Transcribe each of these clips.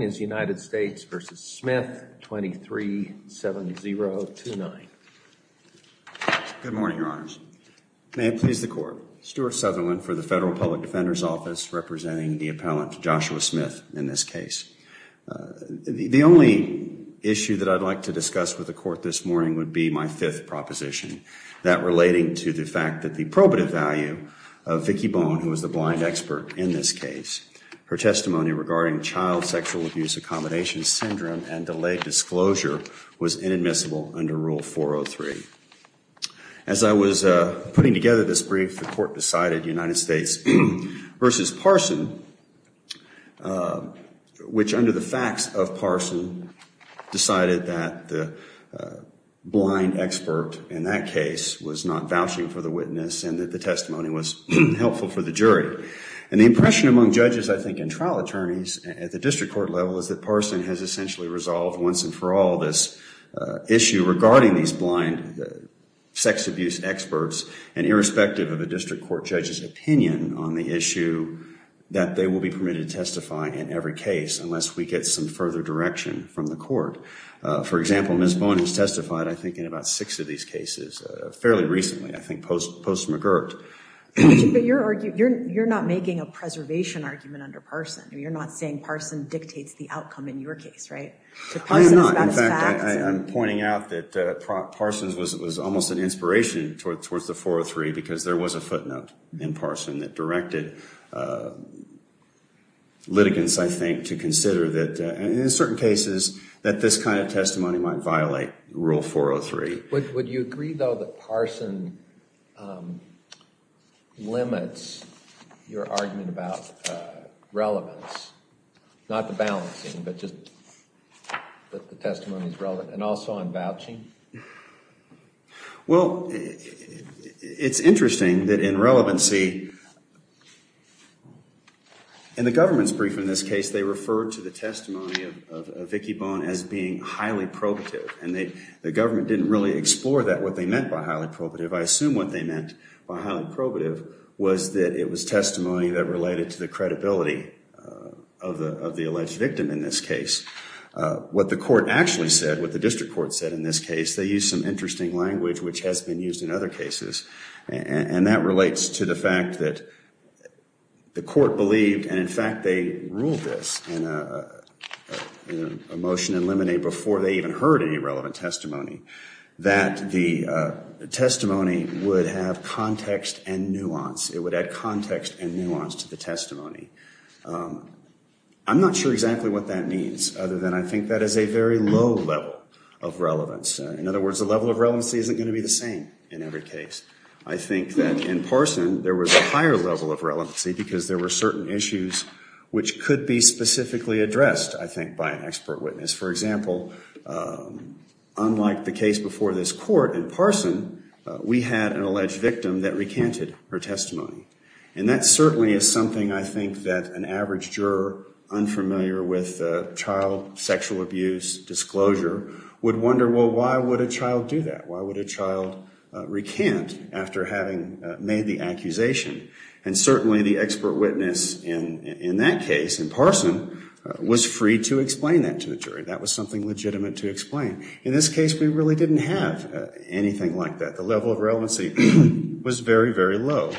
237029. Good morning, Your Honors. May it please the Court. Stewart Sutherland for the Federal Public Defender's Office representing the appellant Joshua Smith in this case. The only issue that I'd like to discuss with the Court this morning would be my fifth proposition, that relating to the fact that the probative value of Vicki Bone, who is the blind expert in this case, her testimony regarding child sexual abuse in the United States, Accommodation Syndrome and delayed disclosure was inadmissible under Rule 403. As I was putting together this brief, the Court decided United States v. Parson, which under the facts of Parson, decided that the blind expert in that case was not vouching for the witness and that the testimony was helpful for the jury. And the impression among judges, I think, and trial attorneys at the district court level is that Parson has essentially resolved once and for all this issue regarding these blind sex abuse experts and irrespective of a district court judge's opinion on the issue that they will be permitted to testify in every case unless we get some further direction from the Court. For example, Ms. Bone has testified, I think, in about six of these cases fairly recently, I think post-McGirt. But you're not making a preservation argument under Parson. You're not saying Parson dictates the outcome in your case, right? I am not. In fact, I'm pointing out that Parson's was almost an inspiration towards the 403 because there was a footnote in Parson that directed litigants, I think, to consider that in certain cases that this kind of testimony might violate Rule 403. Would you agree, though, that Parson limits your argument about relevance, not the balancing, but just that the testimony is relevant, and also on vouching? Well, it's interesting that in relevancy, in the government's brief in this case, they referred to the testimony of Vicki Bone as being highly probative. And the government didn't really explore that, what they meant by highly probative. I assume what they meant by highly probative was that it was testimony that related to the credibility of the alleged victim in this case. What the court actually said, what the district court said in this case, they used some interesting language, which has been used in other cases. And that relates to the fact that the court believed, and in fact they ruled this in a motion in limine before they even heard any relevant testimony, that the testimony would have context and nuance. It would add context and nuance to the testimony. I'm not sure exactly what that means, other than I think that is a very low level of relevance. In other words, the level of relevancy isn't going to be the same in every case. I think that in Parson, there was a higher level of relevancy because there were certain issues which could be specifically addressed, I think, by an expert witness. For example, unlike the case before this court, in Parson, we had an alleged victim that recanted her testimony. And that certainly is something I think that an average juror unfamiliar with child sexual abuse disclosure would wonder, well, why would a child do that? Why would a child recant after having made the accusation? And certainly the expert witness in that case, in Parson, was free to explain that to the jury. That was something legitimate to explain. In this case, we really didn't have anything like that. The level of relevancy was very, very low.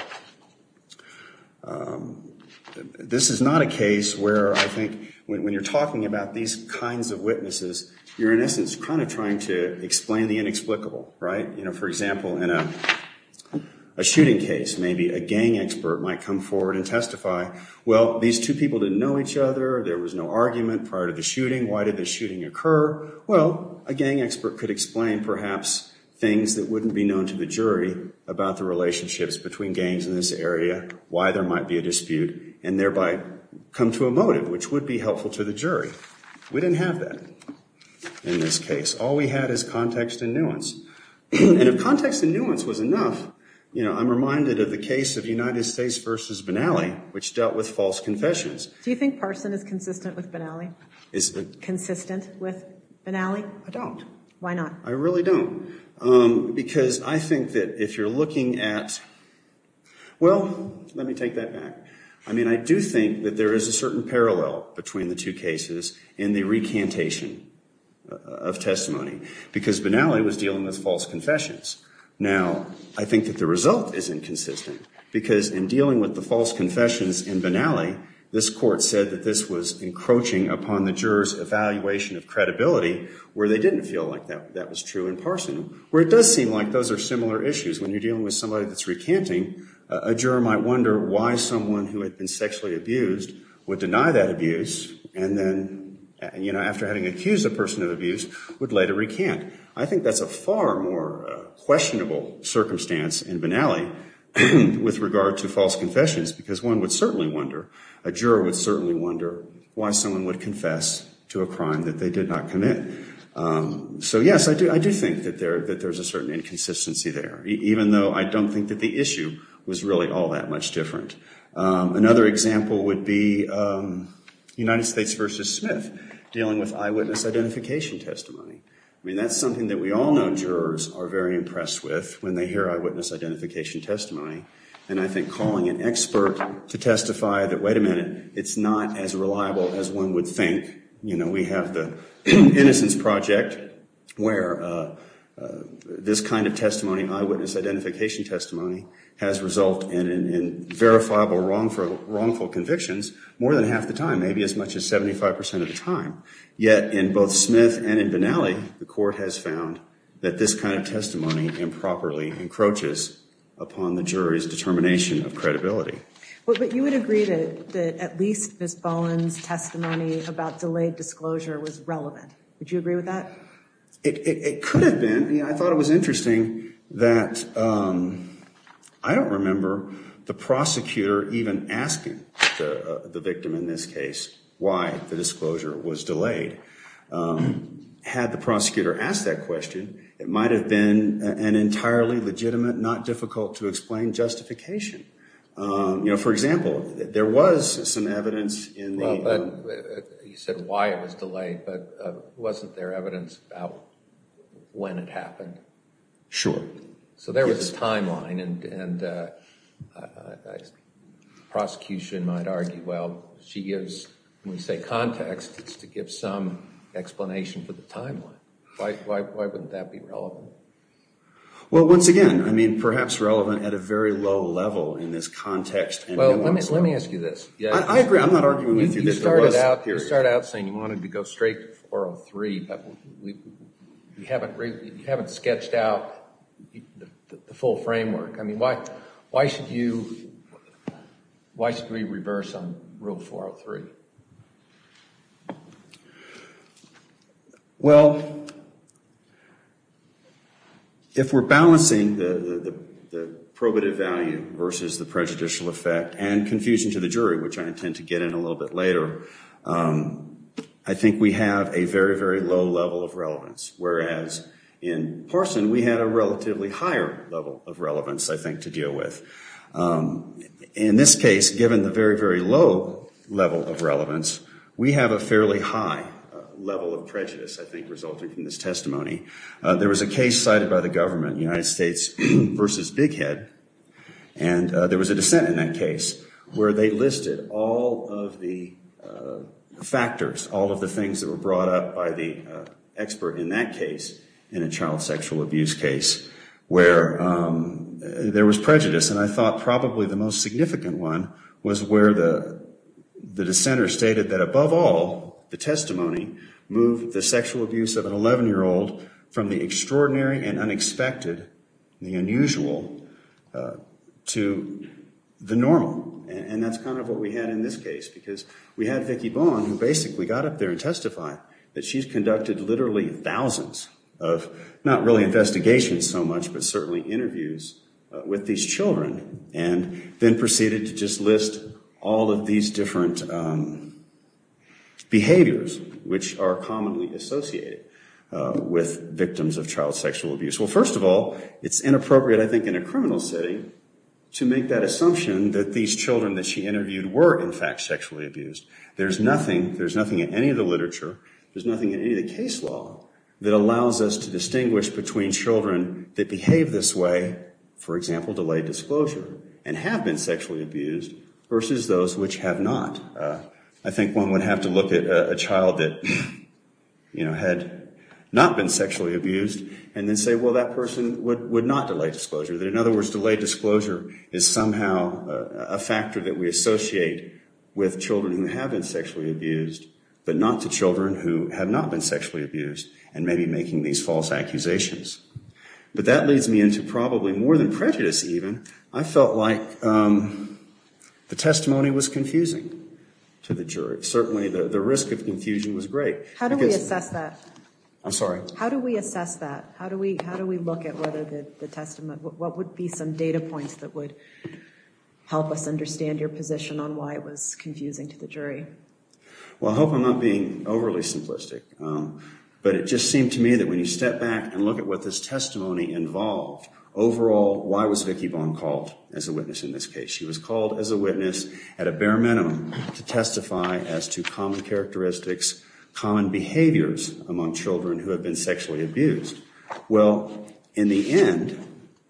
This is not a case where I think when you're talking about these kinds of witnesses, you're in essence kind of trying to explain the inexplicable, right? You know, for example, in a shooting case, maybe a gang expert might come forward and testify, well, these two people didn't know each other. There was no argument prior to the shooting. Why did the shooting occur? Well, a gang expert could explain, perhaps, things that wouldn't be known to the jury about the relationships between gangs in this area, why there might be a dispute, and thereby come to a motive, which would be helpful to the jury. We didn't have that in this case. All we had is context and nuance. And if context and nuance was enough, you know, I'm reminded of the case of United States versus Benally, which dealt with false confessions. Do you think Parson is consistent with Benally? Is consistent with Benally? I don't. Why not? I really don't. Because I think that if you're looking at, well, let me take that back. I mean, I do think that there is a certain parallel between the two cases in the recantation of testimony, because Benally was dealing with false confessions. Now, I think that the result is inconsistent, because in dealing with the false confessions in Benally, this court said that this was encroaching upon the juror's evaluation of credibility, where they didn't feel like that was true in Parson, where it does seem like those are similar issues. When you're dealing with somebody that's recanting, a juror might wonder why someone who had been sexually abused would deny that abuse, and then, you know, after having accused a person of abuse, would later recant. I think that's a far more questionable circumstance in Benally with regard to false confessions, because one would certainly wonder, a juror would certainly wonder why someone would confess to a crime that they did not commit. So, yes, I do think that there's a certain inconsistency there, even though I don't think that the issue was really all that much different. Another example would be United States versus Smith, dealing with eyewitness identification testimony. I mean, that's something that we all know jurors are very impressed with when they hear eyewitness identification testimony, and I think calling an expert to testify that, wait a minute, it's not as reliable as one would think. You know, we have the Innocence Project, where this kind of testimony, eyewitness identification testimony, has resulted in verifiable wrongful convictions more than half the time, maybe as much as 75 percent of the time. Yet, in both Smith and in Benally, the court has found that this kind of testimony improperly encroaches upon the jury's determination of credibility. But you would agree that at least Ms. Bolland's testimony about delayed disclosure was relevant. Would you agree with that? It could have been. I mean, I thought it was interesting that, I don't remember the prosecutor even asking the victim in this case why the disclosure was delayed. Had the prosecutor asked that question, it might have been an entirely legitimate, not difficult to explain justification. You know, for example, there was some evidence in the- You said why it was delayed, but wasn't there evidence about when it happened? Sure. So there was this timeline, and the prosecution might argue, well, she gives, when we say context, it's to give some explanation for the timeline. Why wouldn't that be relevant? Well, once again, I mean, perhaps relevant at a very low level in this context. Well, let me ask you this. I agree. I'm not arguing with you. You started out saying you wanted to go straight to 403, but you haven't sketched out the full framework. I mean, why should we reverse on Rule 403? Well, if we're balancing the probative value versus the prejudicial effect and confusion to the jury, which I intend to get in a little bit later, I think we have a very, very low level of relevance. Whereas in Parson, we had a relatively higher level of relevance, I think, to deal with. In this case, given the very, very low level of relevance, we have a fairly high level of prejudice, I think, resulting from this testimony. There was a case cited by the government, United States versus Big Head. And there was a dissent in that case where they listed all of the factors, all of the things that were brought up by the expert in that case in a child sexual abuse case, where there was prejudice. And I thought probably the most significant one was where the dissenter stated that above all, the testimony moved the sexual abuse of an 11-year-old from the extraordinary and unexpected, the unusual, to the normal. And that's kind of what we had in this case, because we had Vicki Bohan, who basically got up there and testified that she's conducted literally thousands of, not really investigations so much, but certainly interviews with these children. And then proceeded to just list all of these different behaviors, which are commonly associated with victims of child sexual abuse. Well, first of all, it's inappropriate, I think, in a criminal setting to make that assumption that these children that she interviewed were, in fact, sexually abused. There's nothing, there's nothing in any of the literature, there's nothing in any of the case law that allows us to distinguish between children that behave this way, for example, delayed disclosure, and have been sexually abused versus those which have not. I think one would have to look at a child that, you know, had not been sexually abused and then say, well, that person would not delay disclosure. That, in other words, delayed disclosure is somehow a factor that we associate with children who have been sexually abused, but not to children who have not been sexually abused, and maybe making these false accusations. But that leads me into probably more than prejudice, even. I felt like the testimony was confusing to the jury. Certainly, the risk of confusion was great. How do we assess that? I'm sorry? How do we assess that? How do we look at whether the testimony, what would be some data points that would help us understand your position on why it was confusing to the jury? Well, I hope I'm not being overly simplistic, but it just seemed to me that when you step back and look at what this testimony involved, overall, why was Vicki Vaughn called as a witness in this case? She was called as a witness at a bare minimum to testify as to common characteristics, common behaviors among children who have been sexually abused. Well, in the end,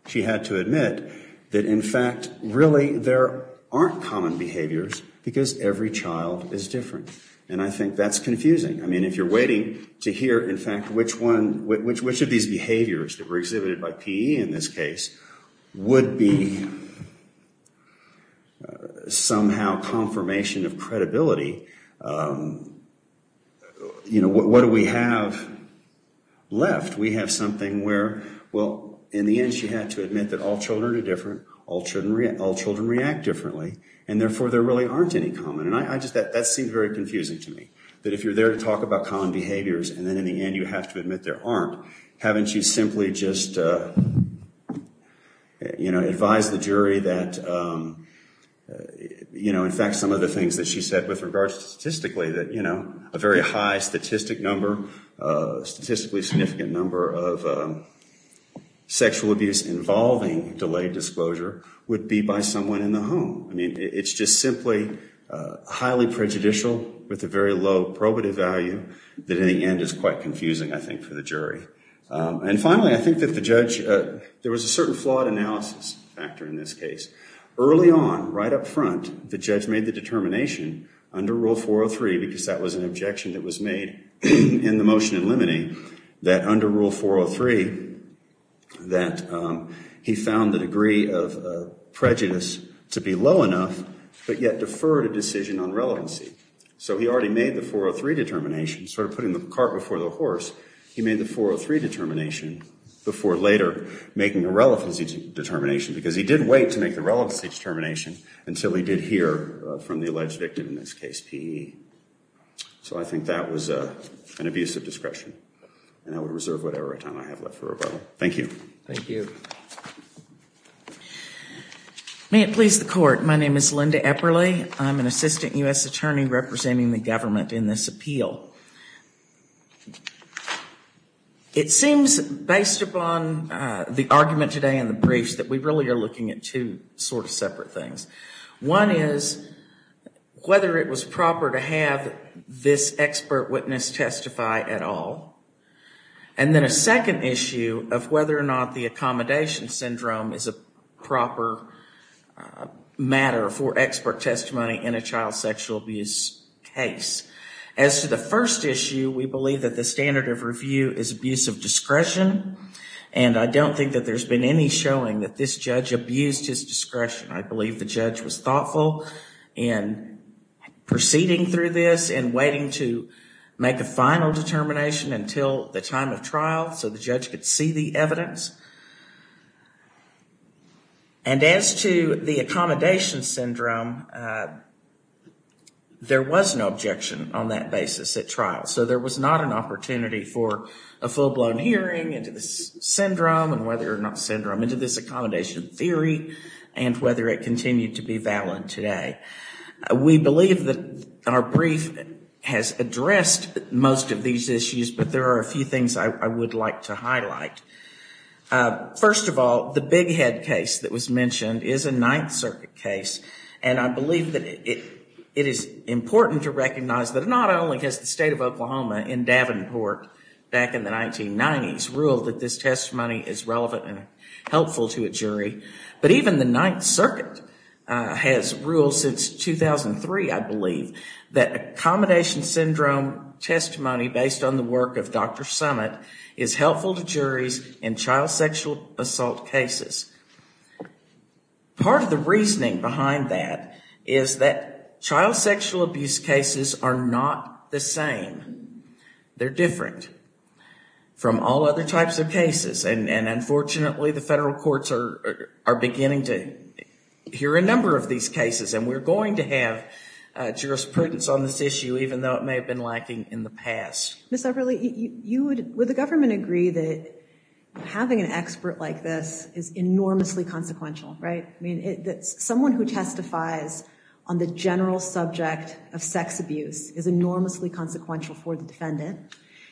she had to admit that, in fact, really there aren't common behaviors because every child is different. And I think that's confusing. I mean, if you're waiting to hear, in fact, which of these behaviors that were exhibited by PE in this case would be somehow confirmation of credibility, you know, what do we have left? We have something where, well, in the end, she had to admit that all children are different. All children react differently. And therefore, there really aren't any common. And I just, that seemed very confusing to me. That if you're there to talk about common behaviors, and then in the end, you have to admit there aren't. Haven't you simply just, you know, advised the jury that, you know, in fact, some of the things that she said with regards to statistically, that, you know, a very high statistic number, statistically significant number of sexual abuse involving delayed disclosure would be by someone in the home. I mean, it's just simply highly prejudicial with a very low probative value that in the end is quite confusing, I think, for the jury. And finally, I think that the judge, there was a certain flawed analysis factor in this case. Early on, right up front, the judge made the determination under Rule 403, because that was an objection that was made in the motion in limine, that under Rule 403, that he found the degree of prejudice to be low enough, but yet deferred a decision on relevancy. So he already made the 403 determination, sort of putting the cart before the horse. He made the 403 determination before later making a relevancy determination, because he did wait to make the relevancy determination until he did hear from the alleged victim, in this case, P.E. So I think that was an abuse of discretion. And I would reserve whatever time I have left for rebuttal. Thank you. Thank you. May it please the Court. My name is Linda Epperle. I'm an Assistant U.S. Attorney representing the government in this appeal. It seems, based upon the argument today and the briefs, that we really are looking at two sort of separate things. One is whether it was proper to have this expert witness testify at all. And then a second issue of whether or not the accommodation syndrome is a proper matter for expert testimony in a child sexual abuse case. As to the first issue, we believe that the standard of review is abuse of discretion. And I don't think that there's been any showing that this judge abused his discretion. I believe the judge was thoughtful in proceeding through this and waiting to make a final determination until the time of trial, so the judge could see the evidence. And as to the accommodation syndrome, there was no objection on that basis at trial. So there was not an opportunity for a full-blown hearing into this syndrome and whether or not syndrome into this accommodation theory and whether it continued to be valid today. We believe that our brief has addressed most of these issues, but there are a few things I would like to highlight. First of all, the Big Head case that was mentioned is a Ninth Circuit case. And I believe that it is important to recognize that not only has the state of Oklahoma in Davenport back in the 1990s ruled that this testimony is relevant and helpful to a jury, but even the Ninth Circuit has ruled since 2003, I believe, that accommodation syndrome testimony based on the work of Dr. Summit is helpful to juries in child sexual assault cases. Part of the reasoning behind that is that child sexual abuse cases are not the same. They're different from all other types of cases. And unfortunately, the federal courts are beginning to hear a number of these cases. And we're going to have jurisprudence on this issue, even though it may have been lacking in the past. Ms. Everly, would the government agree that having an expert like this is enormously consequential, right? I mean, someone who testifies on the general subject of sex abuse is enormously consequential for the defendant.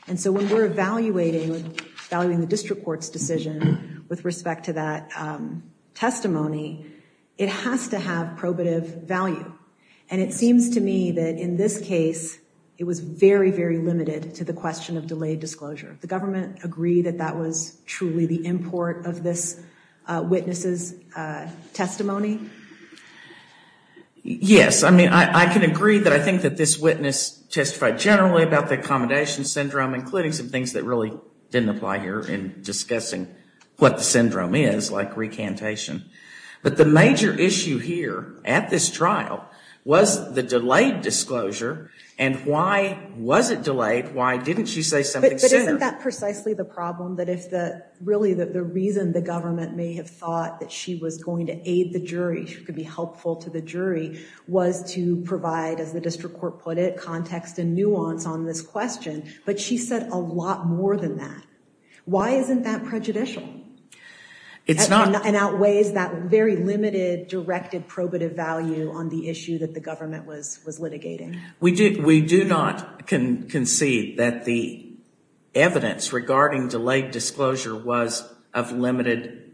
And so when we're evaluating the district court's decision with respect to that testimony, it has to have probative value. And it seems to me that in this case, it was very, very limited to the question of delayed disclosure. The government agree that that was truly the import of this witness's testimony? Yes, I mean, I can agree that I think that this witness testified generally about the accommodation syndrome, including some things that really didn't apply here in discussing what the syndrome is, like recantation. But the major issue here at this trial was the delayed disclosure. And why was it delayed? Why didn't she say something sooner? But isn't that precisely the problem? That if the, really, the reason the government may have thought that she was going to aid the jury, she could be helpful to the jury, was to provide, as the district court put it, context and nuance on this question. But she said a lot more than that. Why isn't that prejudicial? It outweighs that very limited, directed probative value on the issue that the government was litigating. We do not concede that the evidence regarding delayed disclosure was of limited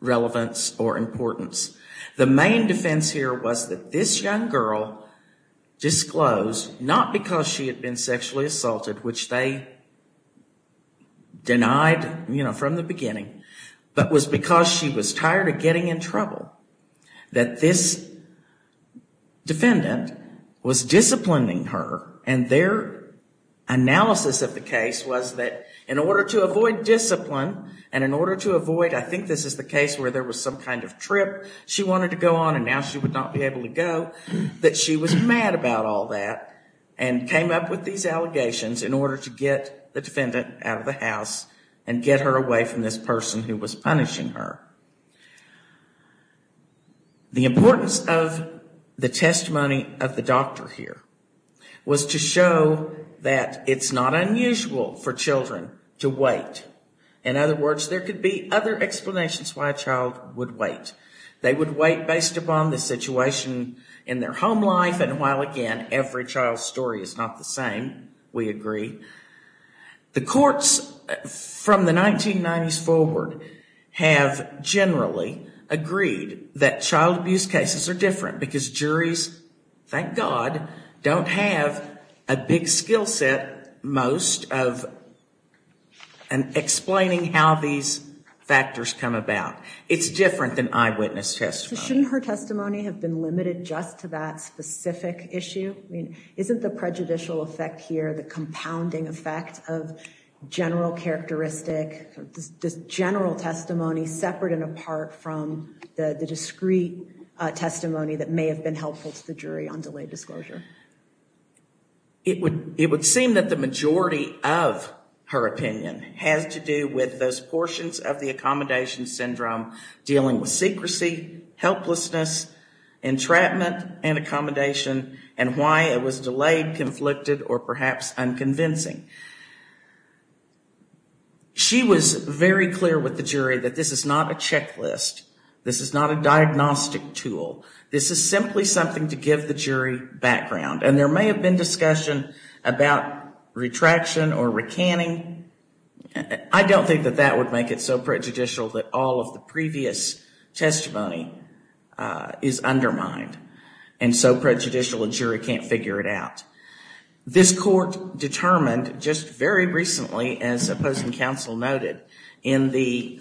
relevance or importance. The main defense here was that this young girl disclosed, not because she had been sexually assaulted, which they denied from the beginning, but was because she was tired of getting in trouble. That this defendant was disciplining her and their analysis of the case was that in order to avoid discipline and in order to avoid, I think this is the case where there was some kind of trip she wanted to go on and now she would not be able to go, that she was mad about all that and came up with these allegations in order to get the defendant out of the house and get her away from this person who was punishing her. The importance of the testimony of the doctor here was to show that it's not unusual for children to wait. In other words, there could be other explanations why a child would wait. They would wait based upon the situation in their home life and while, again, every child's story is not the same, we agree, the courts from the 1990s forward have generally agreed that child abuse cases are different because juries, thank God, don't have a big skill set most of explaining how these factors come about. It's different than eyewitness testimony. Shouldn't her testimony have been limited just to that specific issue? Isn't the prejudicial effect here the compounding effect of general characteristic, general testimony separate and apart from the discrete testimony that may have been helpful to the jury on delayed disclosure? It would seem that the majority of her opinion has to do with those portions of the accommodation syndrome dealing with secrecy, helplessness, entrapment and accommodation and why it was delayed, conflicted or perhaps unconvincing. She was very clear with the jury that this is not a checklist. This is not a diagnostic tool. This is simply something to give the jury background and there may have been discussion about retraction or recanning. I don't think that that would make it so prejudicial that all of the previous testimony is undermined and so prejudicial a jury can't figure it out. This court determined just very recently as opposing counsel noted in the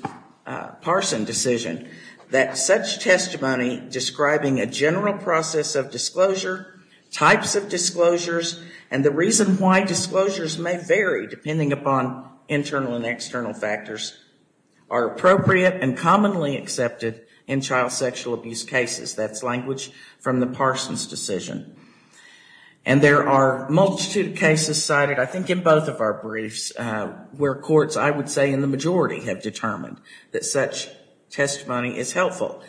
Parson decision that such testimony describing a general process of disclosure, types of disclosures and the reason why disclosures may vary depending upon internal and external factors are appropriate and commonly accepted in child sexual abuse cases. That's language from the Parsons decision. And there are multitude of cases cited I think in both of our briefs where courts I would say in the majority have determined that such testimony is helpful.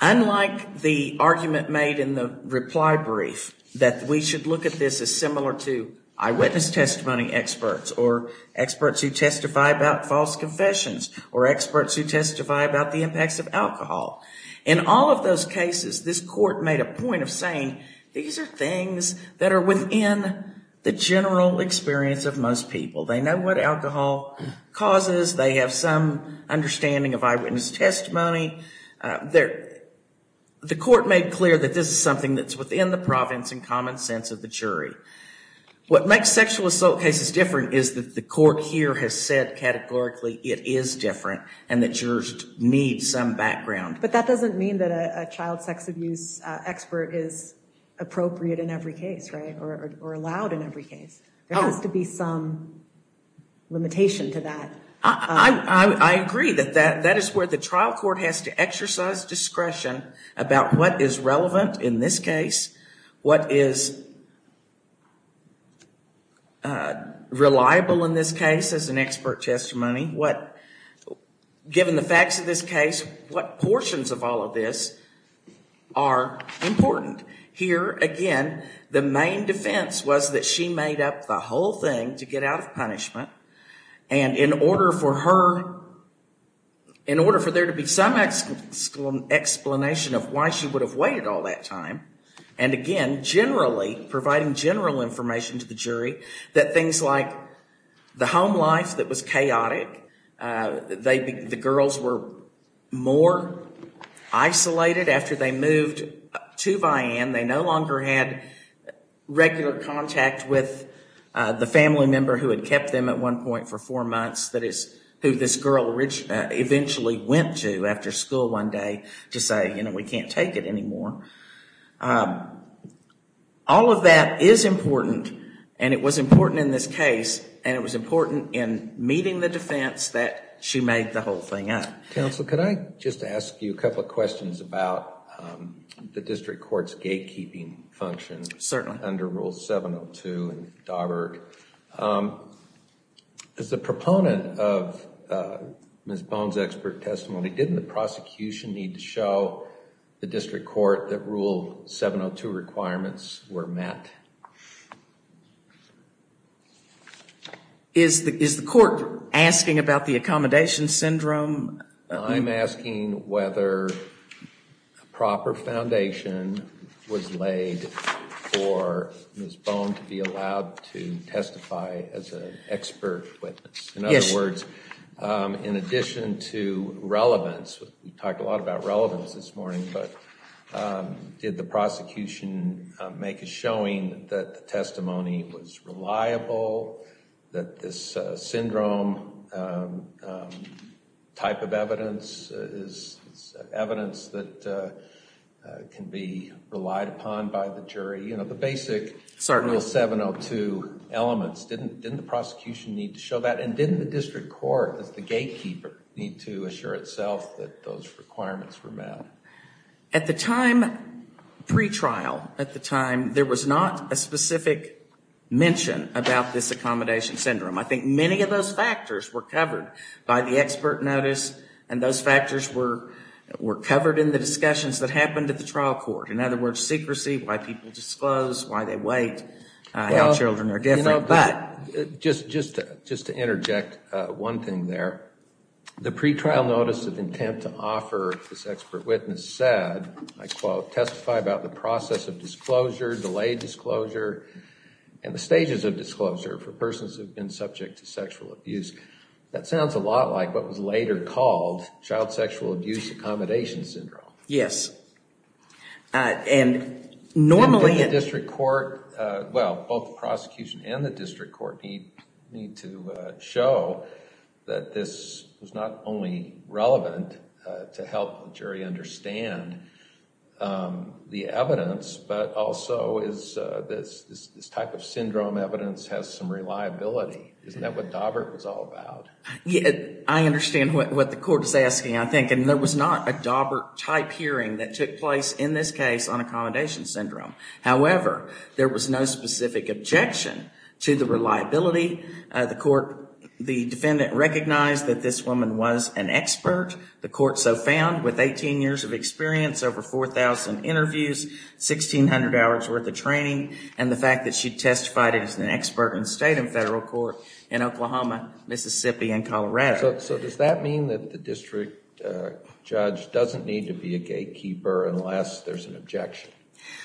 Unlike the argument made in the reply brief that we should look at this as similar to eyewitness testimony experts or experts who testify about false confessions or experts who testify about the impacts of alcohol. In all of those cases this court made a point of saying these are things that are within the general experience of most people. They know what alcohol causes. They have some understanding of eyewitness testimony. The court made clear that this is something that's within the province and common sense of the jury. What makes sexual assault cases different is that the court here has said categorically it is different and that jurors need some background. But that doesn't mean that a child sex abuse expert is appropriate in every case, right? Or allowed in every case. There has to be some limitation to that. I agree that that is where the trial court has to exercise discretion about what is relevant in this case. What is reliable in this case as an expert testimony. Given the facts of this case, what portions of all of this are important? Here, again, the main defense was that she made up the whole thing to get out of punishment and in order for her, in order for there to be some explanation of why she would have waited all that time and again, generally, providing general information to the jury that things like the home life that was chaotic, the girls were more isolated after they moved to Vian. They no longer had regular contact with the family member who had kept them at one point for four months. That is who this girl eventually went to after school one day to say, you know, we can't take it anymore. All of that is important and it was important in this case and it was important in meeting the defense that she made the whole thing up. Counsel, could I just ask you a couple of questions about the district court's gatekeeping function under Rule 702 in Dauberg? As a proponent of Ms. Bohn's expert testimony, didn't the prosecution need to show the district court that Rule 702 requirements were met? Is the court asking about the accommodation syndrome? I'm asking whether a proper foundation was laid for Ms. Bohn to be allowed to testify as an expert witness. In other words, in addition to relevance, we talked a lot about relevance this morning, but did the prosecution make a showing that the testimony was reliable, that this syndrome type of evidence is evidence that can be relied upon by the jury? You know, the basic Rule 702 elements, didn't the prosecution need to show that? Didn't the district court, as the gatekeeper, need to assure itself that those requirements were met? At the time, pre-trial, at the time, there was not a specific mention about this accommodation syndrome. I think many of those factors were covered by the expert notice and those factors were covered in the discussions that happened at the trial court. In other words, secrecy, why people disclose, why they wait, how children are different. But just to interject one thing there, the pre-trial notice of intent to offer this expert witness said, I quote, testify about the process of disclosure, delayed disclosure, and the stages of disclosure for persons who've been subject to sexual abuse. That sounds a lot like what was later called child sexual abuse accommodation syndrome. Yes. And normally in the district court, well, both the prosecution and the district court need to show that this was not only relevant to help the jury understand the evidence, but also is this type of syndrome evidence has some reliability. Isn't that what Daubert was all about? I understand what the court is asking, I think. And there was not a Daubert-type hearing that took place in this case on accommodation syndrome. However, there was no specific objection to the reliability. The court, the defendant recognized that this woman was an expert. The court so found with 18 years of experience, over 4,000 interviews, 1,600 hours worth of training, and the fact that she testified as an expert in state and federal court in Oklahoma, Mississippi, and Colorado. So does that mean that the district judge doesn't need to be a gatekeeper unless there's an objection?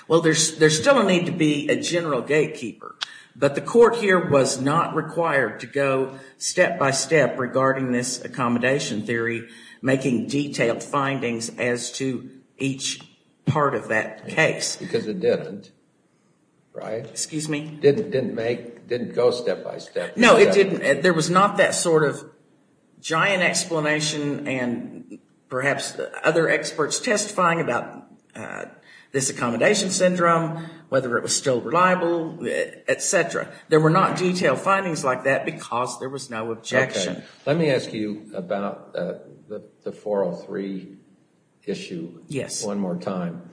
Well, there's still a need to be a general gatekeeper. But the court here was not required to go step-by-step regarding this accommodation theory, making detailed findings as to each part of that case. Because it didn't, right? Excuse me? Didn't make, didn't go step-by-step. No, it didn't. There was not that sort of giant explanation and perhaps other experts testifying about this accommodation syndrome, whether it was still reliable, et cetera. There were not detailed findings like that because there was no objection. Let me ask you about the 403 issue one more time.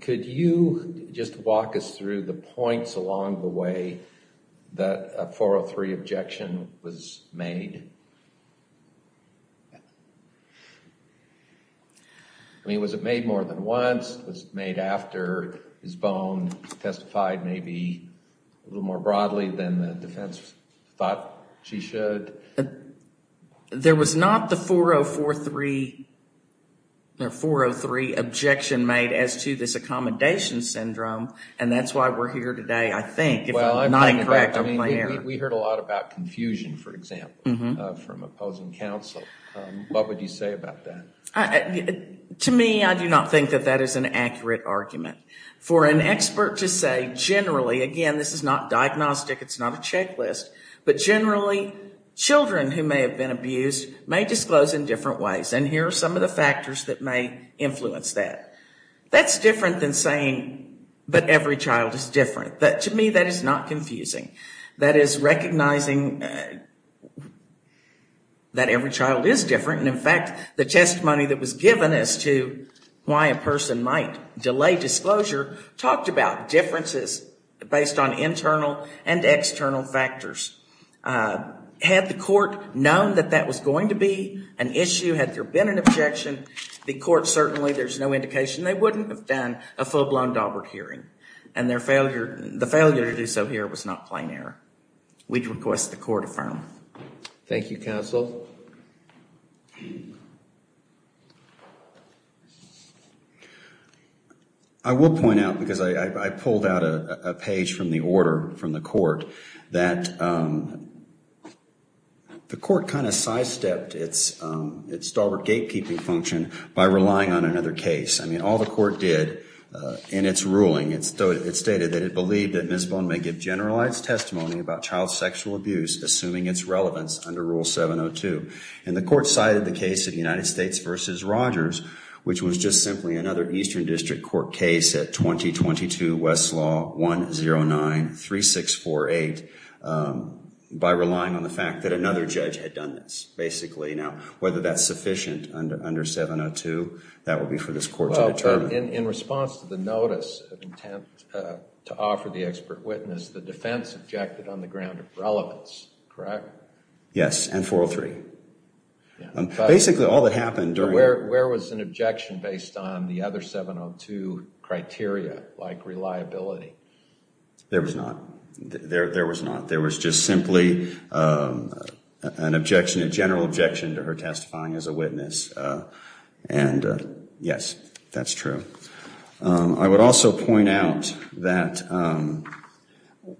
Could you just walk us through the points along the way that a 403 objection was made? I mean, was it made more than once? Was it made after his bone testified maybe a little more broadly than the defense thought she should? There was not the 403 objection made as to this accommodation syndrome. And that's why we're here today, I think. If I'm not incorrect, I'm clear. We heard a lot about confusion, for example. From opposing counsel, what would you say about that? To me, I do not think that that is an accurate argument. For an expert to say, generally, again, this is not diagnostic, it's not a checklist. But generally, children who may have been abused may disclose in different ways. And here are some of the factors that may influence that. That's different than saying, but every child is different. To me, that is not confusing. That is recognizing that every child is different. And in fact, the testimony that was given as to why a person might delay disclosure talked about differences based on internal and external factors. Had the court known that that was going to be an issue, had there been an objection, the court certainly, there's no indication they wouldn't have done a full-blown Daubert hearing. And the failure to do so here was not plain error. We'd request the court affirm. Thank you, counsel. I will point out, because I pulled out a page from the order from the court, that the court kind of sidestepped its Daubert gatekeeping function by relying on another case. I mean, all the court did in its ruling, it stated that it believed that Ms. Bone may give generalized testimony about child sexual abuse, assuming its relevance under Rule 702. And the court cited the case of United States versus Rogers, which was just simply another Eastern District Court case at 2022 Westlaw 109-3648 by relying on the fact that another judge had done this, basically. Now, whether that's sufficient under 702, that will be for this court to determine. In response to the notice of intent to offer the expert witness, the defense objected on the ground of relevance, correct? Yes, and 403. Basically, all that happened during... Where was an objection based on the other 702 criteria, like reliability? There was not. There was not. There was just simply an objection, a general objection to her testifying as a witness. And yes, that's true. I would also point out that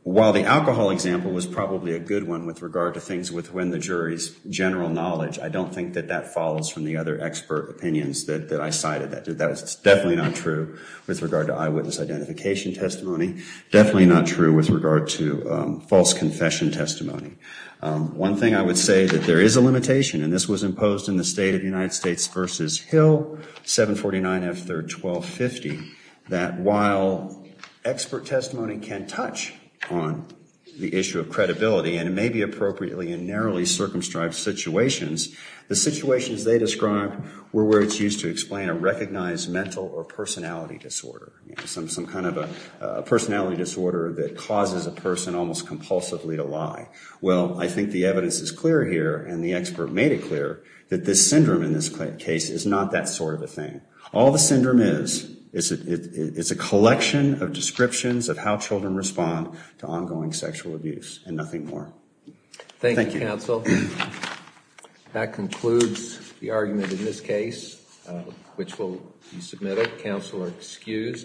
while the alcohol example was probably a good one with regard to things with when the jury's general knowledge, I don't think that that follows from the other expert opinions that I cited. That was definitely not true with regard to eyewitness identification testimony. Definitely not true with regard to false confession testimony. One thing I would say that there is a limitation, and this was imposed in the state of United States v. Hill, 749 F. 3rd, 1250, that while expert testimony can touch on the issue of credibility, and it may be appropriately in narrowly circumscribed situations, the situations they described were where it's used to explain a recognized mental or personality disorder. Some kind of a personality disorder that causes a person almost compulsively to lie. Well, I think the evidence is clear here, and the expert made it clear, that this syndrome in this case is not that sort of a thing. All the syndrome is, is a collection of descriptions of how children respond to ongoing sexual abuse and nothing more. Thank you, counsel. That concludes the argument in this case, which will be submitted. Counsel are excused.